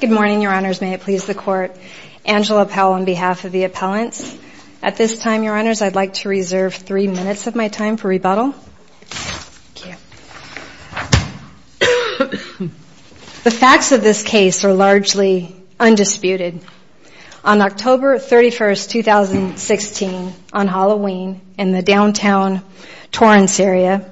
Good morning, Your Honors. May it please the Court. Angela Powell on behalf of the appellants. At this time, Your Honors, I'd like to reserve three minutes of my time for rebuttal. The facts of this case are largely undisputed. On October 31, 2016, on Halloween, in the downtown Torrance area,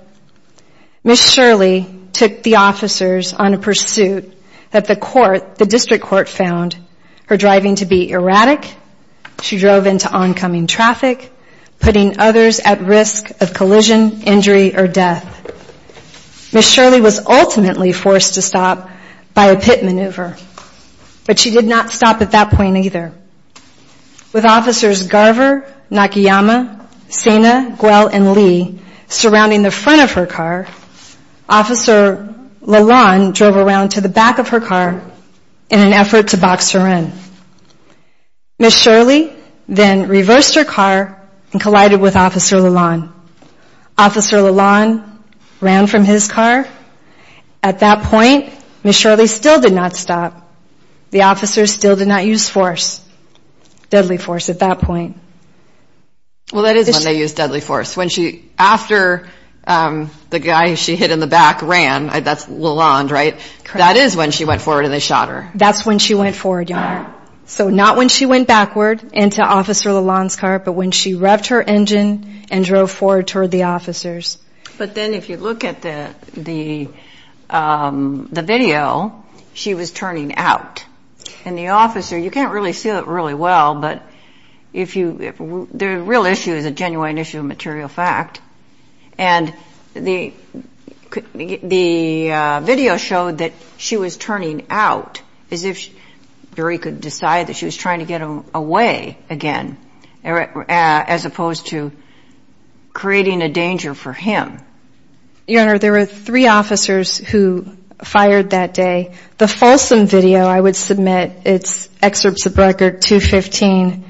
Ms. Shirley took the officers on a pursuit that the District Court found her driving to be erratic, she drove into oncoming traffic, putting others at risk of collision, injury, or death. Ms. Shirley was ultimately forced to stop by a pit maneuver, but she did not stop at that point either. With Officers Garver, Nakayama, Sena, Guell, and Lee surrounding the front of her car, Officer Lalonde drove around to the back of her car in an effort to box her in. Ms. Shirley then reversed her car and collided with Officer Garver. The officers still did not use deadly force at that point. Well, that is when they used deadly force. After the guy she hit in the back ran, that's Lalonde, right? That is when she went forward and they shot her. That's when she went forward, Your Honor. So not when she went backward into Officer Lalonde's car, but when she revved her engine and drove forward toward the officers. But then if you look at the video, she was turning out. And the officer, you can't really see it really well, but the real issue is a genuine issue of material fact. And the video showed that she was turning out as if the jury could decide that she was trying to get away again, as opposed to creating a danger for him. Your Honor, there were three officers who fired that day. The Folsom video, I would submit, it's Excerpts of Record 215,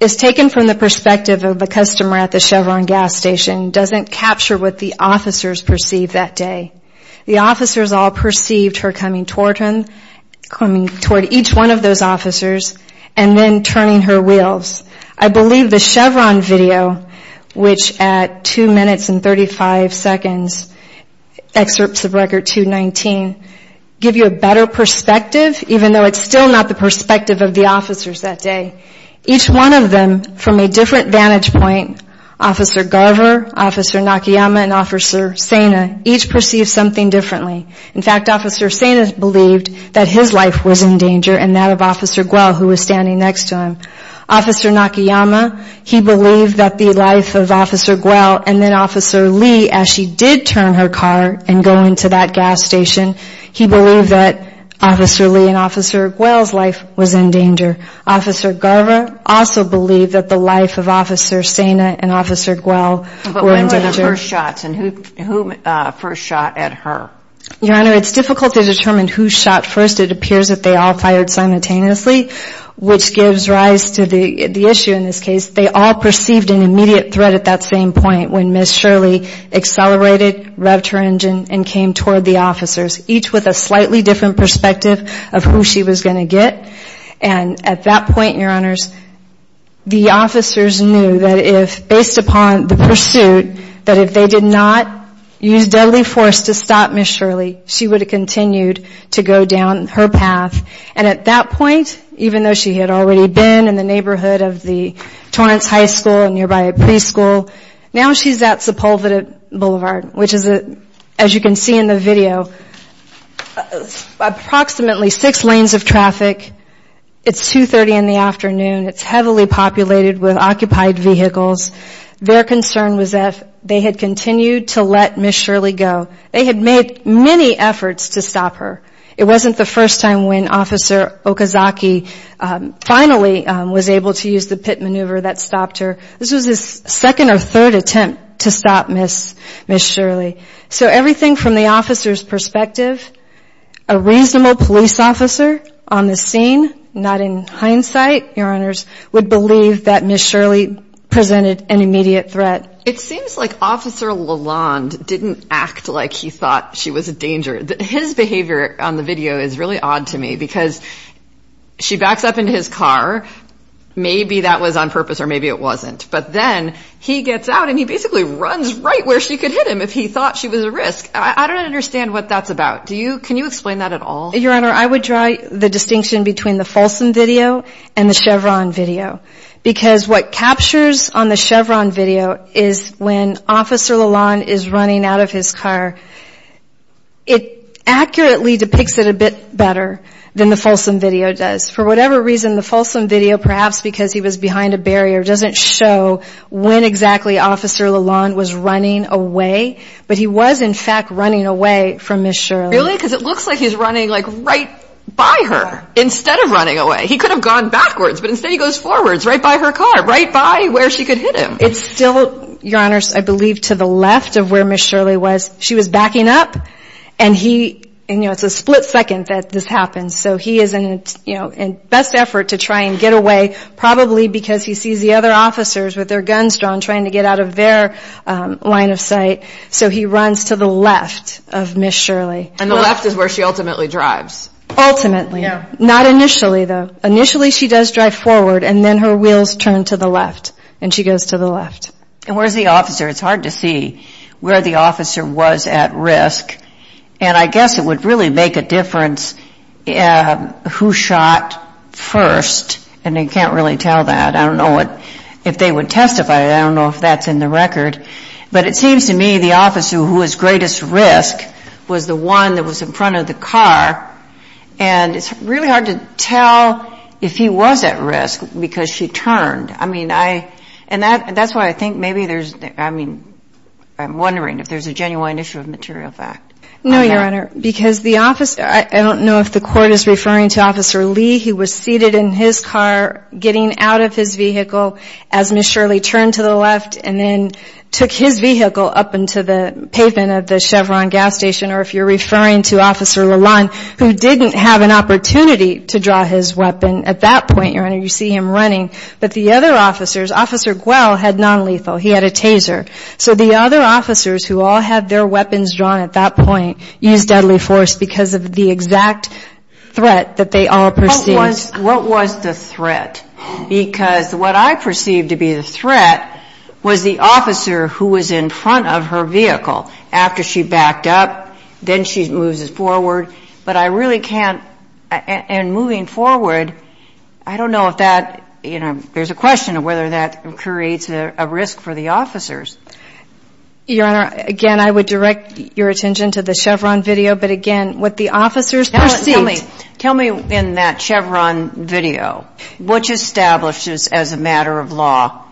is taken from the perspective of the customer at the Chevron gas station. It doesn't capture what the officers perceived that day. The officers all perceived her coming toward each one of those officers and then turning her wheels. I believe the Chevron video, which at 2 minutes and 35 seconds, Excerpts of Record 219, give you a better perspective, even though it's still not the perspective of the officers that day. Each one of them, from a different vantage point, Officer Garver, Officer Nakayama and Officer Saina, each perceived something differently. In fact, Officer Saina believed that his life was in danger and that of Officer Guell, who was standing next to him. Officer Nakayama, he believed that the life of Officer Guell and then Officer Lee, as she did turn her car and go into that gas station, he believed that Officer Lee and Officer Guell's life was in danger. Officer Garver also believed that the life of Officer Saina and Officer Guell were in danger. But when were the first shots and who first shot at her? Your Honor, it's difficult to determine who shot first. It appears that they all fired simultaneously, which gives rise to the issue in this case. They all perceived an immediate threat at that same point when Ms. Shirley accelerated, revved her engine and came toward the officers, each with a slightly different perspective of who she was going to get. And at that point, Your Honors, the officers knew that if, based upon the pursuit, that if they did not use deadly force to stop Ms. Shirley, she would have continued to go down her path. And at that point, even though she had already been in the neighborhood of the Torrance High School and nearby a preschool, now she's at Sepulveda Boulevard, which is, as you can see in the video, approximately six lanes of traffic. It's 2.30 in the afternoon. It's heavily populated with occupied vehicles. Their concern was that if they had continued to let Ms. Shirley go, they had made many efforts to stop her. It wasn't the first time when Officer Okazaki finally was able to use the pit maneuver that stopped her. This was his second or third attempt to stop Ms. Shirley. So everything from the officer's perspective, a reasonable police officer on the scene, not in hindsight, Your Honors, would believe that Ms. Shirley presented an immediate threat. It seems like Officer Lalonde didn't act like he thought she was a danger. His behavior on the video is really odd to me because she backs up into his car. Maybe that was on purpose or maybe it wasn't. But then he gets out and he basically runs right where she could hit him if he thought she was a risk. I don't understand what that's about. Can you explain that at all? Your Honor, I would draw the distinction between the Folsom video and the Chevron video. Because what captures on the Chevron video is when Officer Lalonde is running out of his car, it accurately depicts it a bit better than the Folsom video does. For whatever reason, the Folsom video, perhaps because he was behind a barrier, doesn't show when exactly Officer Lalonde was running away. But he was, in fact, running away from Ms. Shirley. Really? Because it looks like he's running right by her instead of running away. He could have gone backwards, but instead he goes forwards, right by her car, right by where she could hit him. It's still, Your Honors, I believe to the left of where Ms. Shirley was. She was backing up and it's a split second that this happens. So he is in best effort to try and get away, probably because he sees the other officers with their guns drawn trying to get out of their line of sight. So he runs to the left of Ms. Shirley. And the left is where she ultimately drives. Ultimately. Not initially, though. Initially she does drive forward and then her wheels turn to the left and she goes to the left. Where's the officer? It's hard to see where the officer was at risk. And I guess it would really make a difference who shot first. And you can't really tell that. I don't know if they would testify. I don't know if that's in the record. But it seems to me the officer who was greatest risk was the one that was in front of the car. And it's really hard to tell if he was at risk because she turned. And that's why I think maybe there's, I mean, I'm wondering if there's a genuine issue of material fact. No, Your Honor. Because the officer, I don't know if the court is referring to Officer Lee. He was seated in his car getting out of his vehicle as Ms. Shirley turned to the left and then took his vehicle up into the pavement of the Chevron gas station. Or if you were to draw his weapon at that point, Your Honor, you see him running. But the other officers, Officer Guell had non-lethal. He had a taser. So the other officers who all had their weapons drawn at that point used deadly force because of the exact threat that they all perceived. What was the threat? Because what I perceived to be the threat was the officer who was in front of her vehicle after she backed up, then she moves forward. But I really can't and moving forward, I don't know if that, you know, there's a question of whether that creates a risk for the officers. Your Honor, again, I would direct your attention to the Chevron video. But again, what the officers perceived. Tell me in that Chevron video, which establishes as a matter of law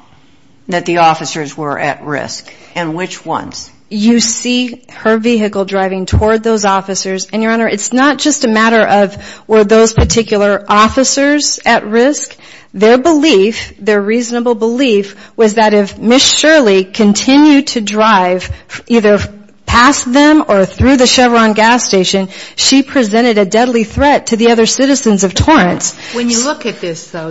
that the officers were at risk and which ones? You see her vehicle driving toward those officers. And, Your Honor, it's not just a matter of were those particular officers at risk? Their belief, their reasonable belief, was that if Ms. Shirley continued to drive either past them or through the Chevron gas station, she presented a deadly threat to the other citizens of Torrance. When you look at this, though,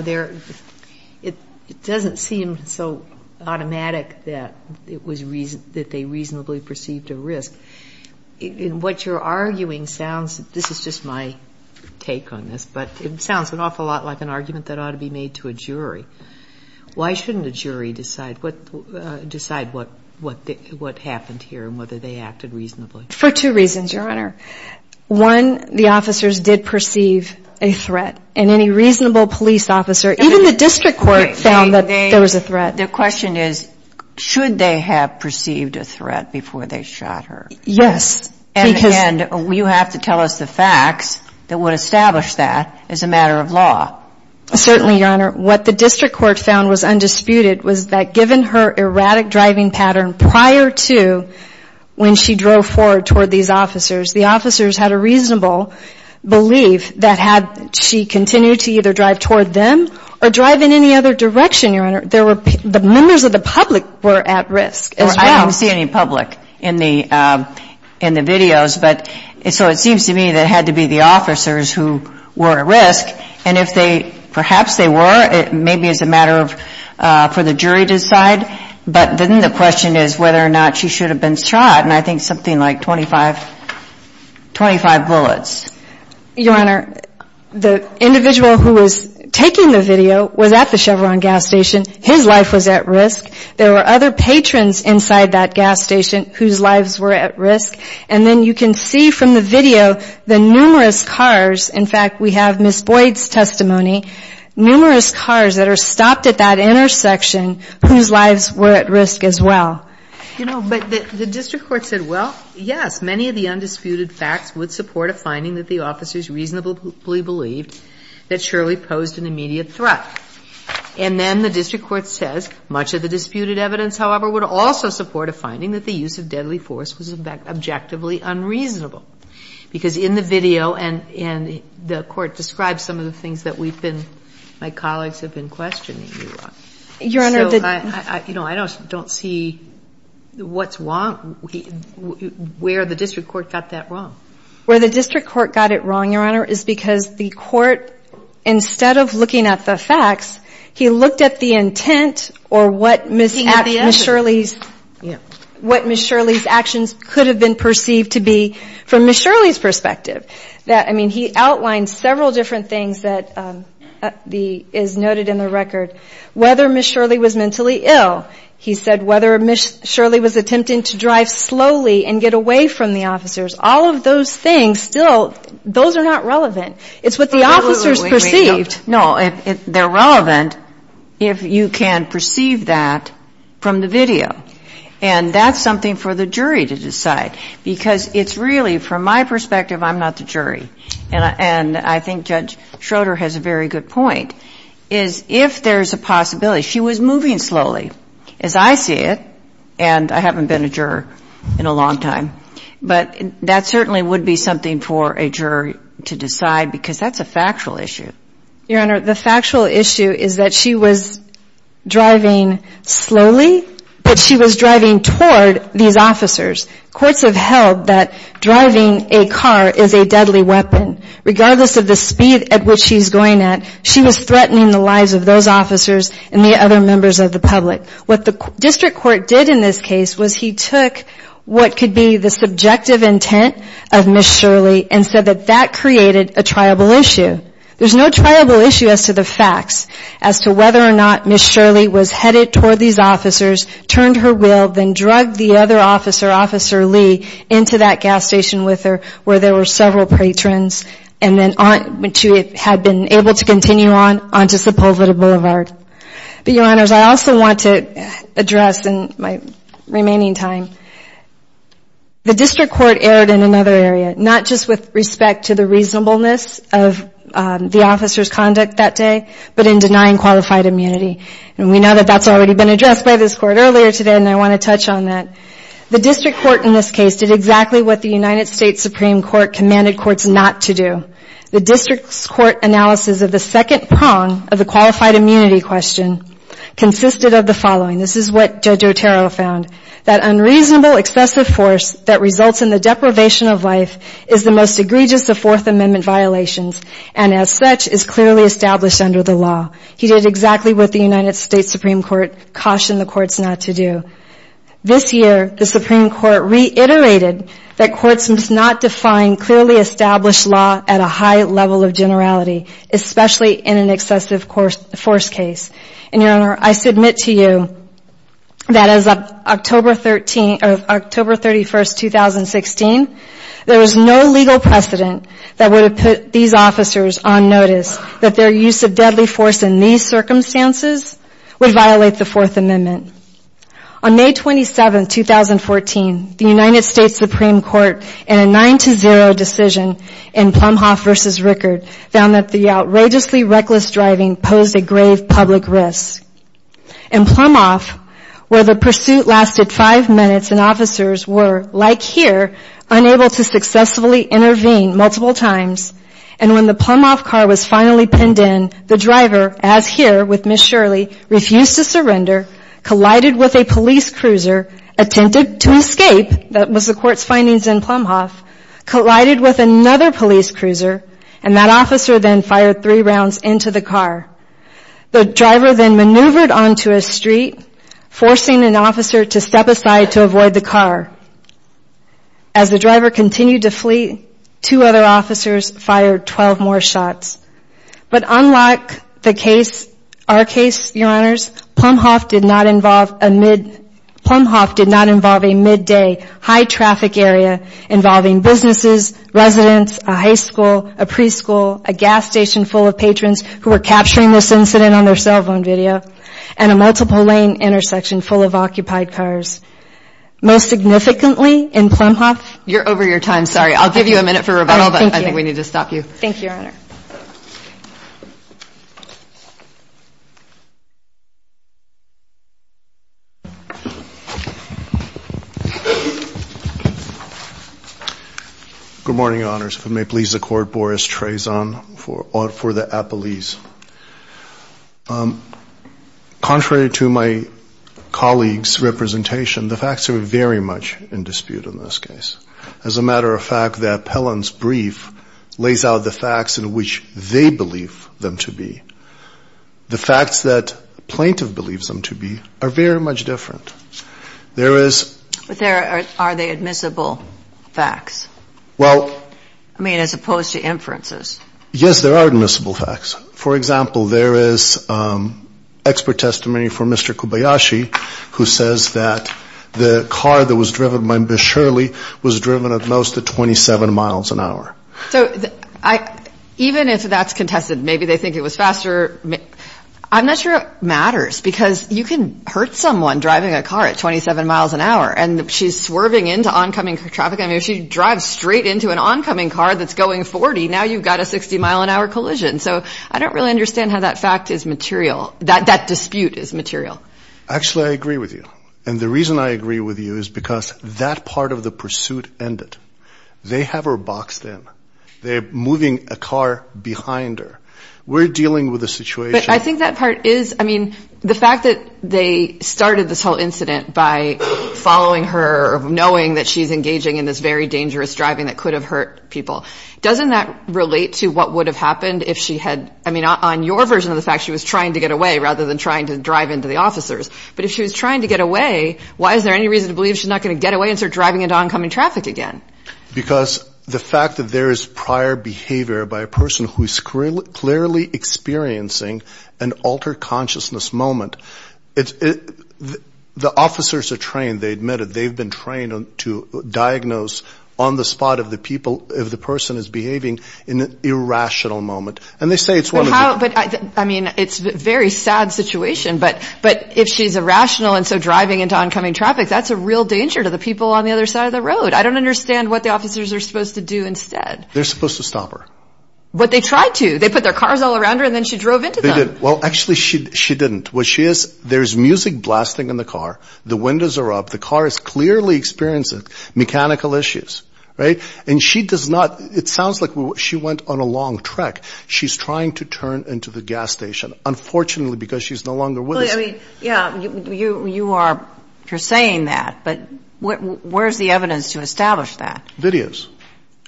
it doesn't seem so automatic that they reasonably perceived a risk. And what you're arguing sounds, this is just my take on this, but it sounds an awful lot like an argument that ought to be made to a jury. Why shouldn't a jury decide what happened here and whether they acted reasonably? For two reasons, Your Honor. One, the officers did perceive a threat. And any reasonable police officer, even the district court, found that there was a threat. The question is, should they have perceived a threat before they shot her? Yes. And, again, you have to tell us the facts that would establish that as a matter of law. Certainly, Your Honor. What the district court found was undisputed was that given her erratic driving pattern prior to when she drove forward toward these officers, the officers had a reasonable belief that had she continued to either drive toward them or drive in any other direction, Your Honor, the members of the public were at risk as well. I don't see any public in the videos. So it seems to me that it had to be the officers who were at risk. And if they, perhaps they were, maybe it's a matter for the jury to decide. But then the question is whether or not she should have been shot. And I think something like 25 bullets. Your Honor, the individual who was taking the video was at the Chevron gas station. His life was at risk. There were other patrons inside that gas station whose lives were at risk. And then you can see from the video the numerous cars. In fact, we have Ms. Boyd's testimony. Numerous cars that are stopped at that intersection whose lives were at risk as well. You know, but the district court said, well, yes, many of the undisputed facts would support a finding that the officers reasonably believed that Shirley posed an immediate threat. And then the district court says, much of the disputed evidence, however, would also support a finding that the use of deadly force was objectively unreasonable. Because in the video, and the court describes some of the things that we've been, my colleagues have been questioning. Your Honor, the So, you know, I don't see what's wrong, where the district court got that wrong. Where the district court got it wrong, Your Honor, is because the court, instead of looking at the facts, he looked at the intent or what Ms. Shirley's actions could have been perceived to be from Ms. Shirley's perspective. I mean, he outlined several different things that is noted in the record. Whether Ms. Shirley was mentally ill. He said whether Ms. Shirley was attempting to drive slowly and get away from the officers. All of those things, still, those are not relevant. It's what the officers perceived. No, they're relevant if you can perceive that from the video. And that's something for the jury to decide. Because it's really, from my perspective, I'm not the jury. And I think Judge Schroeder has a very good point, is if there's a possibility. She was moving slowly, as I see it. And I haven't been a juror in a long time. But that certainly would be something for a jury to decide. Because that's a factual issue. Your Honor, the factual issue is that she was driving slowly. But she was driving toward these officers. Courts have held that driving a car is a deadly weapon. Regardless of the speed at which she's going at. She was threatening the lives of those officers and the other members of the public. What the district court did in this case was he took what could be the subjective intent of Ms. Shirley and said that that created a triable issue. There's no triable issue as to the facts. As to whether or not Ms. Shirley was headed toward these officers, turned her wheel, then drug the other officer, Officer Lee, into that gas station with her where there were several patrons. And then she had been able to continue on onto Sepulveda Boulevard. But, Your Honors, I also want to address in my remaining time, the district court erred in another area, not just with respect to the reasonableness of the officer's conduct that day, but in denying qualified immunity. And we know that that's already been addressed by this court earlier today. And I want to touch on that. The district court in this case did exactly what the United States Supreme Court commanded courts not to do. The district's court analysis of the second prong of the qualified immunity question consisted of the following. This is what Judge Otero found. That unreasonable, excessive force that results in the deprivation of life is the most egregious of Fourth Amendment violations. And as such, is clearly established under the law. He did exactly what the United States Supreme Court cautioned the courts not to do. This year, the Supreme Court reiterated that courts must not define clearly established law at a high level of generality, especially in an excessive force case. And, Your Honor, I submit to you that as of October 31, 2016, there was no legal precedent that would have put these officers on notice that their use of deadly force in these circumstances would violate the Fourth Amendment. On May 27, 2014, the United States Supreme Court in a 9 to 0 decision in Plumhoff versus Rickard found that the outrageously reckless driving posed a grave public risk. In Plumhoff, where the pursuit lasted five minutes and officers were, like here, unable to successfully intervene multiple times, and when the Plumhoff car was finally pinned in, the driver, as here with Ms. Shirley, refused to surrender, collided with a police cruiser, attempted to escape, that was the court's findings in Plumhoff, collided with another police cruiser, and that officer then fired three rounds into the car. The driver then maneuvered onto a street, forcing an officer to step aside to avoid the car. As the driver continued to flee, two other officers fired 12 more shots. But unlike the case, our case, your honors, Plumhoff did not involve a mid, Plumhoff did not involve a midday high traffic area involving businesses, residents, a high school, a preschool, a gas station full of patrons who were capturing this incident on their cell phone video, and a multiple lane intersection full of occupied cars. Most significantly, in Plumhoff, you're over your time. Sorry, I'll give you a minute for rebuttal, but I think we need to stop you. Thank you, your honor. Good morning, your honors. If it may please the court, Boris Trezon for the appellees. Contrary to my colleague's representation, the facts are very much in dispute in this case. As a matter of fact, the appellant's brief lays out the facts in which they believe them to be. The facts that a plaintiff believes them to be are very much different. There is- But are they admissible facts? Well- I mean, as opposed to inferences. Yes, there are admissible facts. For example, there is expert testimony for Mr. Kobayashi, who says that the car that was driven by Ms. Shirley was driven at most at 27 miles an hour. So, even if that's contested, maybe they think it was faster- I'm not sure it matters, because you can hurt someone driving a car at 27 miles an hour, and she's swerving into oncoming traffic. I mean, if she drives straight into an oncoming car that's going 40, now you've got a 60 mile an hour collision. So, I don't really understand how that fact is material- that dispute is material. Actually, I agree with you. And the reason I agree with you is because that part of the pursuit ended. They have her boxed in. They're moving a car behind her. We're dealing with a situation- But I think that part is- I mean, the fact that they started this whole incident by following her, knowing that she's engaging in this very dangerous driving that could have hurt people, doesn't that relate to what would have happened if she had- I mean, on your version of the fact, she was trying to get away, rather than trying to drive into the officers. But if she was trying to get away, why is there any reason to believe she's not going to get away and start driving into oncoming traffic again? Because the fact that there is prior behavior by a person who's clearly experiencing an altered consciousness moment. The officers are trained. They admit it. They've been trained to diagnose on the spot of the people, if the person is behaving, in an irrational moment. And they say it's one of the- I mean, it's a very sad situation. But if she's irrational and so driving into oncoming traffic, that's a real danger to the people on the other side of the road. I don't understand what the officers are supposed to do instead. They're supposed to stop her. But they tried to. They put their cars all around her, and then she drove into them. They did. Well, actually, she didn't. What she is- There's music blasting in the car. The windows are up. The car is clearly experiencing mechanical issues, right? And she does not- It sounds like she went on a long trek. She's trying to turn into the gas station, unfortunately, because she's no longer with us. Well, I mean, yeah, you are saying that. But where's the evidence to establish that? Videos.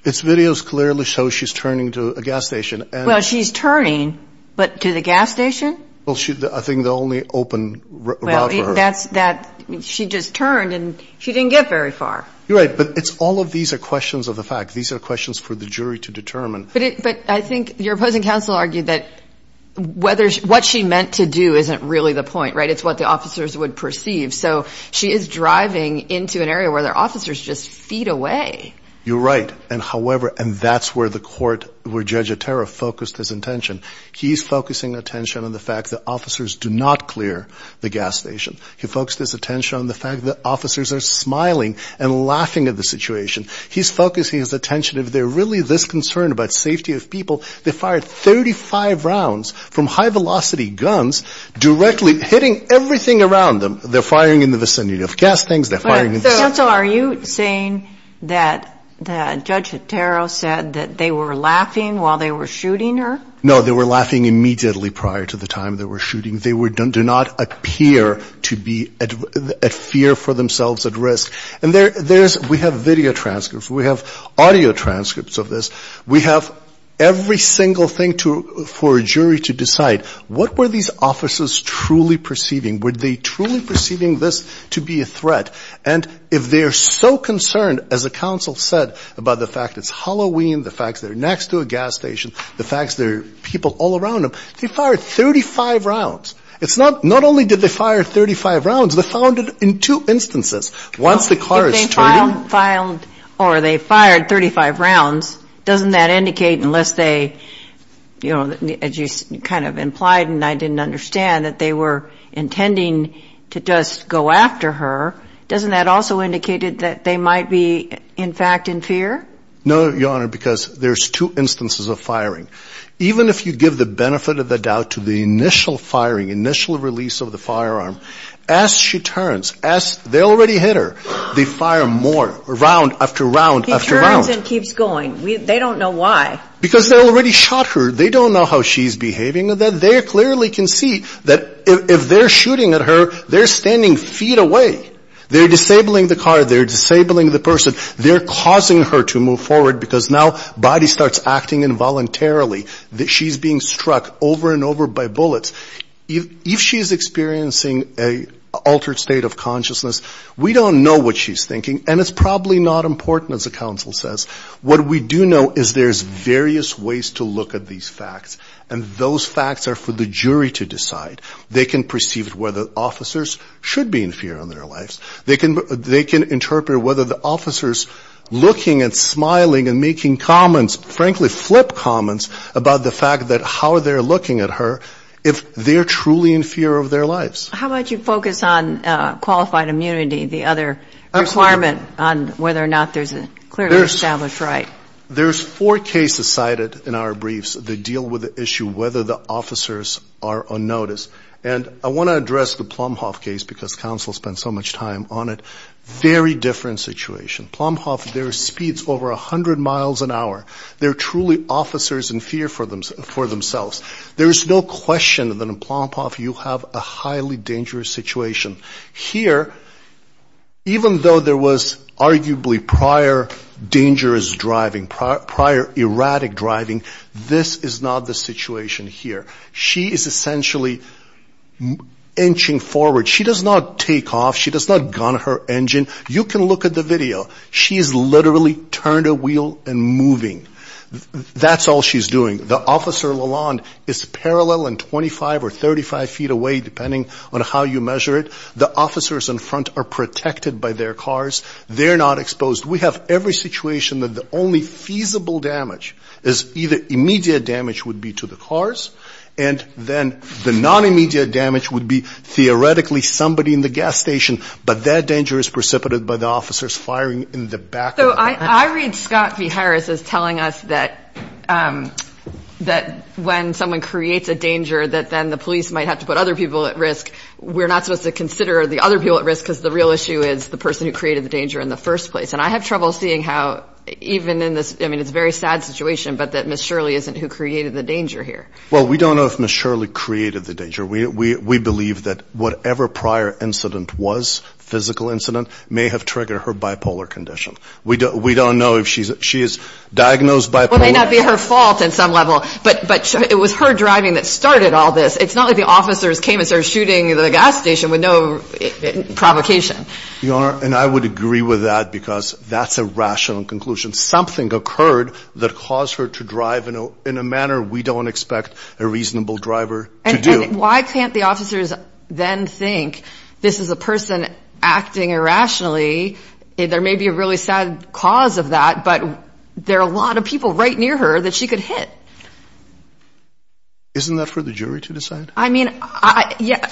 It's videos clearly show she's turning to a gas station. Well, she's turning, but to the gas station? Well, I think the only open route for her. Well, she just turned, and she didn't get very far. You're right. But all of these are questions of the fact. These are questions for the jury to determine. But I think your opposing counsel argued that what she meant to do isn't really the point, right? It's what the officers would perceive. So she is driving into an area where their officers just feed away. You're right. And that's where the court, where Judge Otero focused his attention. He's focusing attention on the fact that officers do not clear the gas station. He focused his attention on the fact that officers are smiling and laughing at the situation. He's focusing his attention. If they're really this concerned about safety of people, they fired 35 rounds from high-velocity guns directly hitting everything around them. They're firing in the vicinity of gas tanks. They're firing in the vicinity. Counsel, are you saying that Judge Otero said that they were laughing while they were shooting her? No, they were laughing immediately prior to the time they were shooting. They do not appear to be at fear for themselves, at risk. And we have video transcripts. We have audio transcripts of this. We have every single thing for a jury to decide. What were these officers truly perceiving? Were they truly perceiving this to be a threat? And if they're so concerned, as the counsel said, about the fact it's Halloween, the fact they're next to a gas station, the fact there are people all around them, they fired 35 rounds. Not only did they fire 35 rounds, they found it in two instances. Once the car is turning... If they found or they fired 35 rounds, doesn't that indicate, unless they, you know, as you kind of implied and I didn't understand, that they were intending to just go after her, doesn't that also indicate that they might be, in fact, in fear? No, Your Honor, because there's two instances of firing. Even if you give the benefit of the doubt to the initial firing, initial release of the firearm, as she turns, as they already hit her, they fire more round after round after round. He turns and keeps going. They don't know why. Because they already shot her. They don't know how she's behaving. They clearly can see that if they're shooting at her, they're standing feet away. They're disabling the car. They're disabling the person. They're causing her to move forward because now body starts acting involuntarily. She's being struck over and over by bullets. If she's experiencing an altered state of consciousness, we don't know what she's thinking. And it's probably not important, as the counsel says. What we do know is there's various ways to look at these facts. And those facts are for the jury to decide. They can perceive whether officers should be in fear in their lives. They can interpret whether the officers looking and smiling and making comments, frankly, flip comments about the fact that how they're looking at her, if they're truly in fear of their lives. How about you focus on qualified immunity, the other requirement on whether or not there's a clearly established right? There's four cases cited in our briefs that deal with the issue whether the officers are on notice. And I want to address the Plumhoff case because counsel spent so much time on it. Very different situation. Plumhoff, their speed's over 100 miles an hour. They're truly officers in fear for themselves. There is no question that in Plumhoff, you have a highly dangerous situation. Here, even though there was arguably prior dangerous driving, prior erratic driving, this is not the situation here. She is essentially inching forward. She does not take off. She does not gun her engine. You can look at the video. She's literally turned a wheel and moving. That's all she's doing. The Officer Lalonde is parallel and 25 or 35 feet away, depending on how you measure it. The officers in front are protected by their cars. They're not exposed. We have every situation that the only feasible damage is either immediate damage would be to the cars. And then the non-immediate damage would be theoretically somebody in the gas station. But that danger is precipitated by the officers firing in the back. I read Scott v. Harris as telling us that when someone creates a danger, that then the police might have to put other people at risk. We're not supposed to consider the other people at risk because the real issue is the person who created the danger in the first place. And I have trouble seeing how even in this, I mean, it's a very sad situation, but that Ms. Shirley isn't who created the danger here. Well, we don't know if Ms. Shirley created the danger. We believe that whatever prior incident was, physical incident, may have triggered her bipolar condition. We don't know if she's, she is diagnosed by- Well, it may not be her fault in some level, but it was her driving that started all this. It's not like the officers came and started shooting the gas station with no provocation. Your Honor, and I would agree with that because that's a rational conclusion. Something occurred that caused her to drive in a manner we don't expect a reasonable driver to do. Why can't the officers then think this is a person acting irrationally? There may be a really sad cause of that, but there are a lot of people right near her that she could hit. Isn't that for the jury to decide? I mean,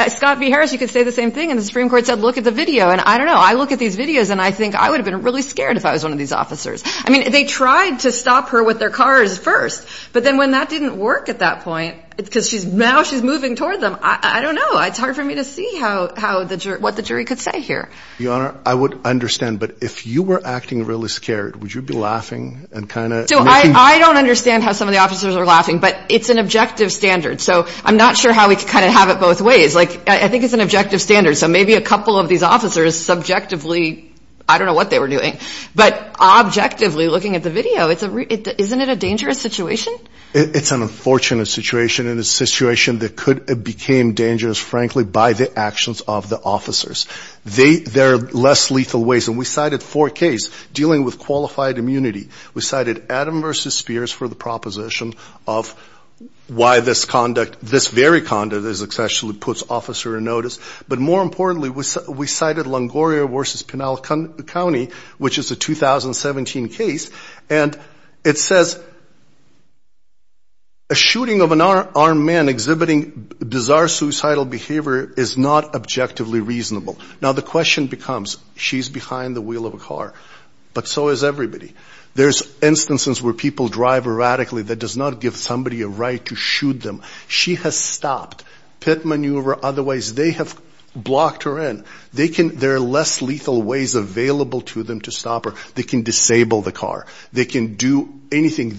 Scott B. Harris, you could say the same thing. And the Supreme Court said, look at the video. And I don't know. I look at these videos and I think I would have been really scared if I was one of these officers. I mean, they tried to stop her with their cars first. But then when that didn't work at that point, because now she's moving toward them. I don't know. It's hard for me to see what the jury could say here. Your Honor, I would understand. But if you were acting really scared, would you be laughing and kind of... So I don't understand how some of the officers are laughing, but it's an objective standard. So I'm not sure how we could kind of have it both ways. Like, I think it's an objective standard. So maybe a couple of these officers subjectively, I don't know what they were doing, but objectively looking at the video, isn't it a dangerous situation? It's an unfortunate situation. And it's a situation that could have became dangerous, frankly, by the actions of the officers. There are less lethal ways. And we cited four cases dealing with qualified immunity. We cited Adam v. Spears for the proposition of why this conduct, this very conduct actually puts officer in notice. But more importantly, we cited Longoria v. Pinal County, which is a 2017 case. And it says, a shooting of an armed man exhibiting bizarre suicidal behavior is not objectively reasonable. Now the question becomes, she's behind the wheel of a car, but so is everybody. There's instances where people drive erratically that does not give somebody a right to shoot them. She has stopped. Pit maneuver, otherwise, they have blocked her in. They can, there are less lethal ways available to them to stop her. They can disable the car. They can do anything.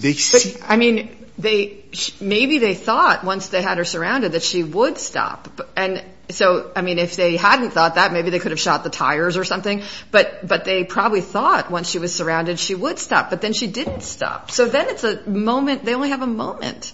I mean, maybe they thought once they had her surrounded, that she would stop. And so, I mean, if they hadn't thought that, maybe they could have shot the tires or something. But they probably thought once she was surrounded, she would stop, but then she didn't stop. So then it's a moment. They only have a moment.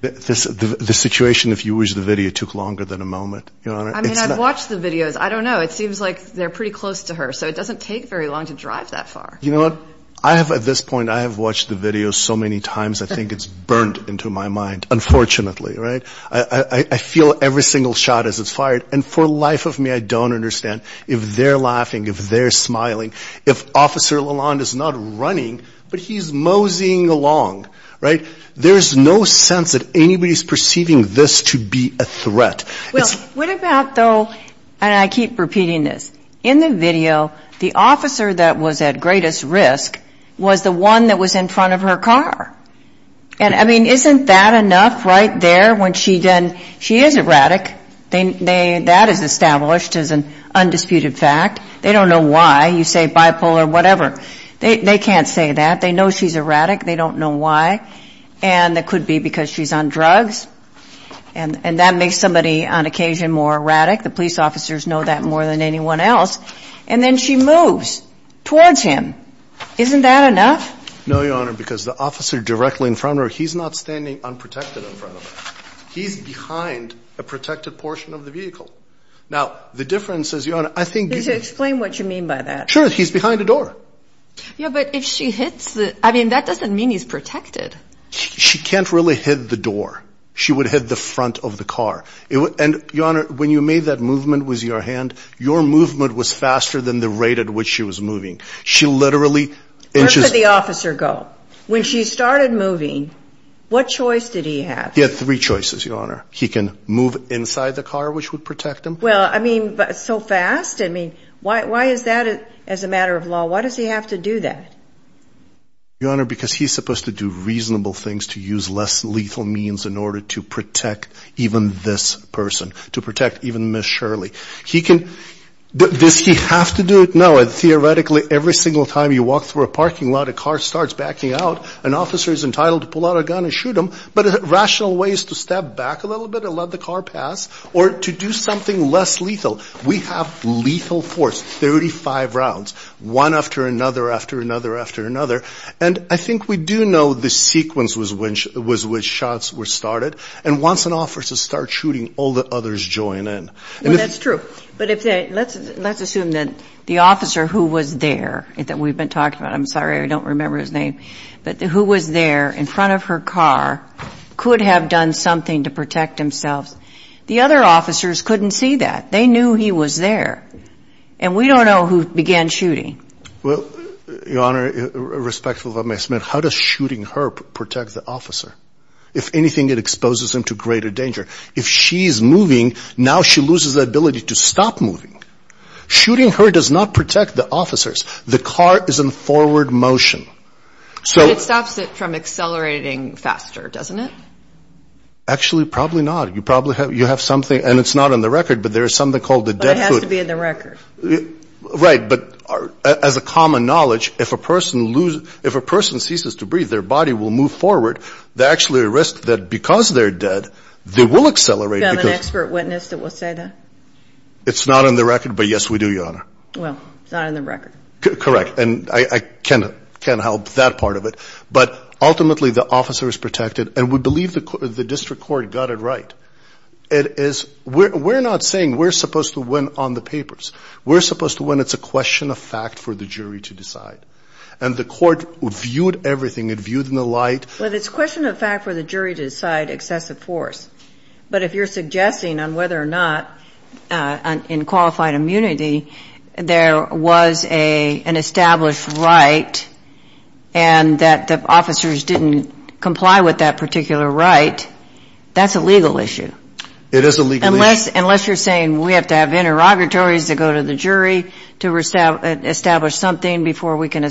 The situation, if you wish, the video took longer than a moment. I mean, I've watched the videos. I don't know. It seems like they're pretty close to her. So it doesn't take very long to drive that far. You know what? I have at this point, I have watched the video so many times. I think it's burned into my mind, unfortunately, right? I feel every single shot as it's fired. And for life of me, I don't understand if they're laughing, if they're smiling, if Officer Lalonde is not running, but he's moseying along, right? There's no sense that anybody's perceiving this to be a threat. Well, what about though, and I keep repeating this, in the video, the officer that was at greatest risk was the one that was in front of her car. And I mean, isn't that enough right there when she then, she is erratic. That is established as an undisputed fact. They don't know why. You say bipolar, whatever. They can't say that. They know she's erratic. They don't know why. And that could be because she's on drugs. And that makes somebody on occasion more erratic. The police officers know that more than anyone else. And then she moves towards him. Isn't that enough? No, Your Honor, because the officer directly in front of her, he's not standing unprotected in front of her. He's behind a protected portion of the vehicle. Now, the difference is, Your Honor, I think... You should explain what you mean by that. Sure, he's behind the door. Yeah, but if she hits the... I mean, that doesn't mean he's protected. She can't really hit the door. She would hit the front of the car. And Your Honor, when you made that movement with your hand, your movement was faster than the rate at which she was moving. She literally... Where did the officer go? When she started moving, what choice did he have? He had three choices, Your Honor. He can move inside the car, which would protect him. Well, I mean, so fast? I mean, why is that as a matter of law? Why does he have to do that? Your Honor, because he's supposed to do reasonable things to use less lethal means in order to protect even this person, to protect even Ms. Shirley. He can... Does he have to do it? No. Theoretically, every single time you walk through a parking lot, a car starts backing out. An officer is entitled to pull out a gun and shoot him. But a rational way is to step back a little bit and let the car pass or to do something less lethal. We have lethal force, 35 rounds, one after another, after another, after another. And I think we do know the sequence was which shots were started. And once an officer starts shooting, all the others join in. Well, that's true. But let's assume that the officer who was there, that we've been talking about, I'm sorry, I don't remember his name, but who was there in front of her car could have done something to protect himself. The other officers couldn't see that. They knew he was there. And we don't know who began shooting. Well, Your Honor, respectful of my estimate, how does shooting her protect the officer? If anything, it exposes him to greater danger. If she's moving, now she loses the ability to stop moving. Shooting her does not protect the officers. The car is in forward motion. It stops it from accelerating faster, doesn't it? Actually, probably not. You probably have, you have something, and it's not on the record, but there is something called the dead foot. But it has to be in the record. Right. But as a common knowledge, if a person loses, if a person ceases to breathe, their body will move forward. They're actually at risk that because they're dead, they will accelerate. Do you have an expert witness that will say that? It's not on the record. But yes, we do, Your Honor. Well, it's not on the record. Correct. And I can't help that part of it. But ultimately, the officer is protected. And we believe the district court got it right. It is, we're not saying we're supposed to win on the papers. We're supposed to win. It's a question of fact for the jury to decide. And the court viewed everything. It viewed in the light. Well, it's a question of fact for the jury to decide excessive force. But if you're suggesting on whether or not in qualified immunity, there was an established right, and that the officers didn't comply with that particular right, that's a legal issue. It is a legal issue. Unless you're saying we have to have interrogatories to go to the jury to establish something before we can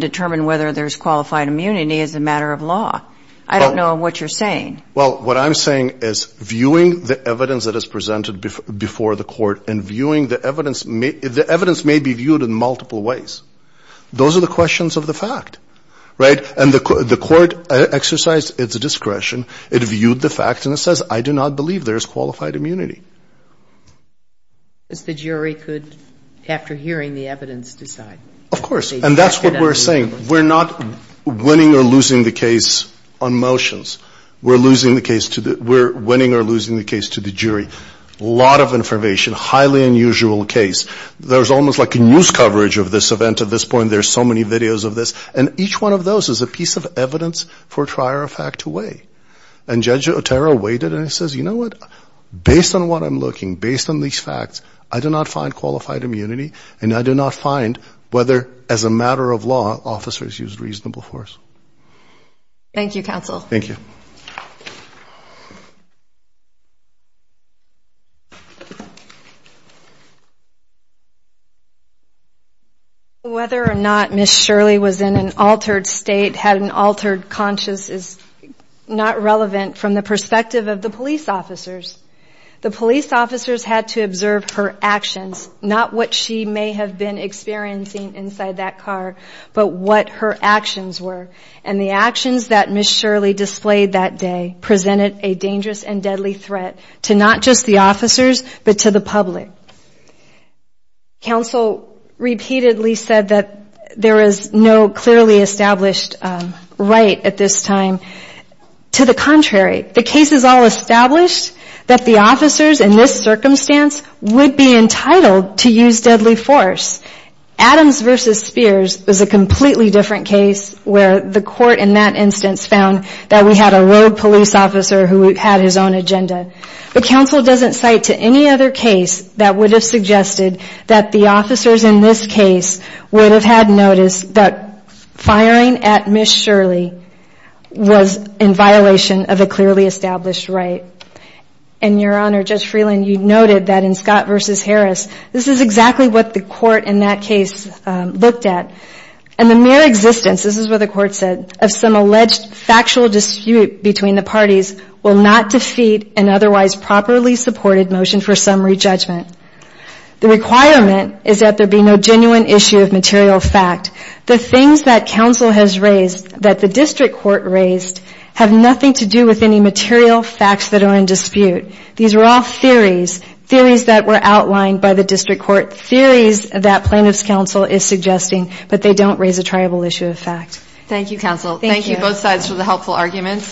determine whether there's qualified immunity as a matter of law. I don't know what you're saying. Well, what I'm saying is viewing the evidence that is presented before the court and viewing the evidence, the evidence may be viewed in multiple ways. Those are the questions of the fact, right? And the court exercised its discretion. It viewed the facts and it says, I do not believe there's qualified immunity. The jury could, after hearing the evidence, decide. Of course. And that's what we're saying. We're not winning or losing the case on motions. We're losing the case to the, we're winning or losing the case to the jury. Lot of information, highly unusual case. There's almost like a news coverage of this event at this point. There's so many videos of this. And each one of those is a piece of evidence for trial or fact away. And Judge Otero waited and he says, you know what? Based on what I'm looking, based on these facts, I do not find qualified immunity. And I do not find whether, as a matter of law, officers use reasonable force. Thank you, counsel. Thank you. Whether or not Ms. Shirley was in an altered state, had an altered conscious is not relevant from the perspective of the police officers. The police officers had to observe her actions, not what she may have been experiencing inside that car, but what her actions were. And the actions that Ms. Shirley displayed that day presented a dangerous and deadly threat to not just the officers, but to the public. Counsel repeatedly said that there is no clearly established right at this time. To the contrary. The case is all established that the officers in this circumstance would be entitled to use deadly force. Adams versus Spears was a completely different case where the court in that instance found that we had a road police officer who had his own agenda. But counsel doesn't cite to any other case that would have suggested that the officers in this case would have had notice that firing at Ms. Shirley was in violation of a clearly established right. And your honor, Judge Freeland, you noted that in Scott versus Harris, this is exactly what the court in that case looked at. And the mere existence, this is what the court said, of some alleged factual dispute between the parties will not defeat an otherwise properly supported motion for summary judgment. The requirement is that there be no genuine issue of material fact. The things that counsel has raised, that the district court raised, have nothing to do with any material facts that are in dispute. These are all theories. Theories that were outlined by the district court. Theories that plaintiff's counsel is suggesting, but they don't raise a triable issue of fact. Thank you, counsel. Thank you both sides for the helpful arguments.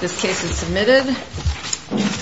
This case is submitted.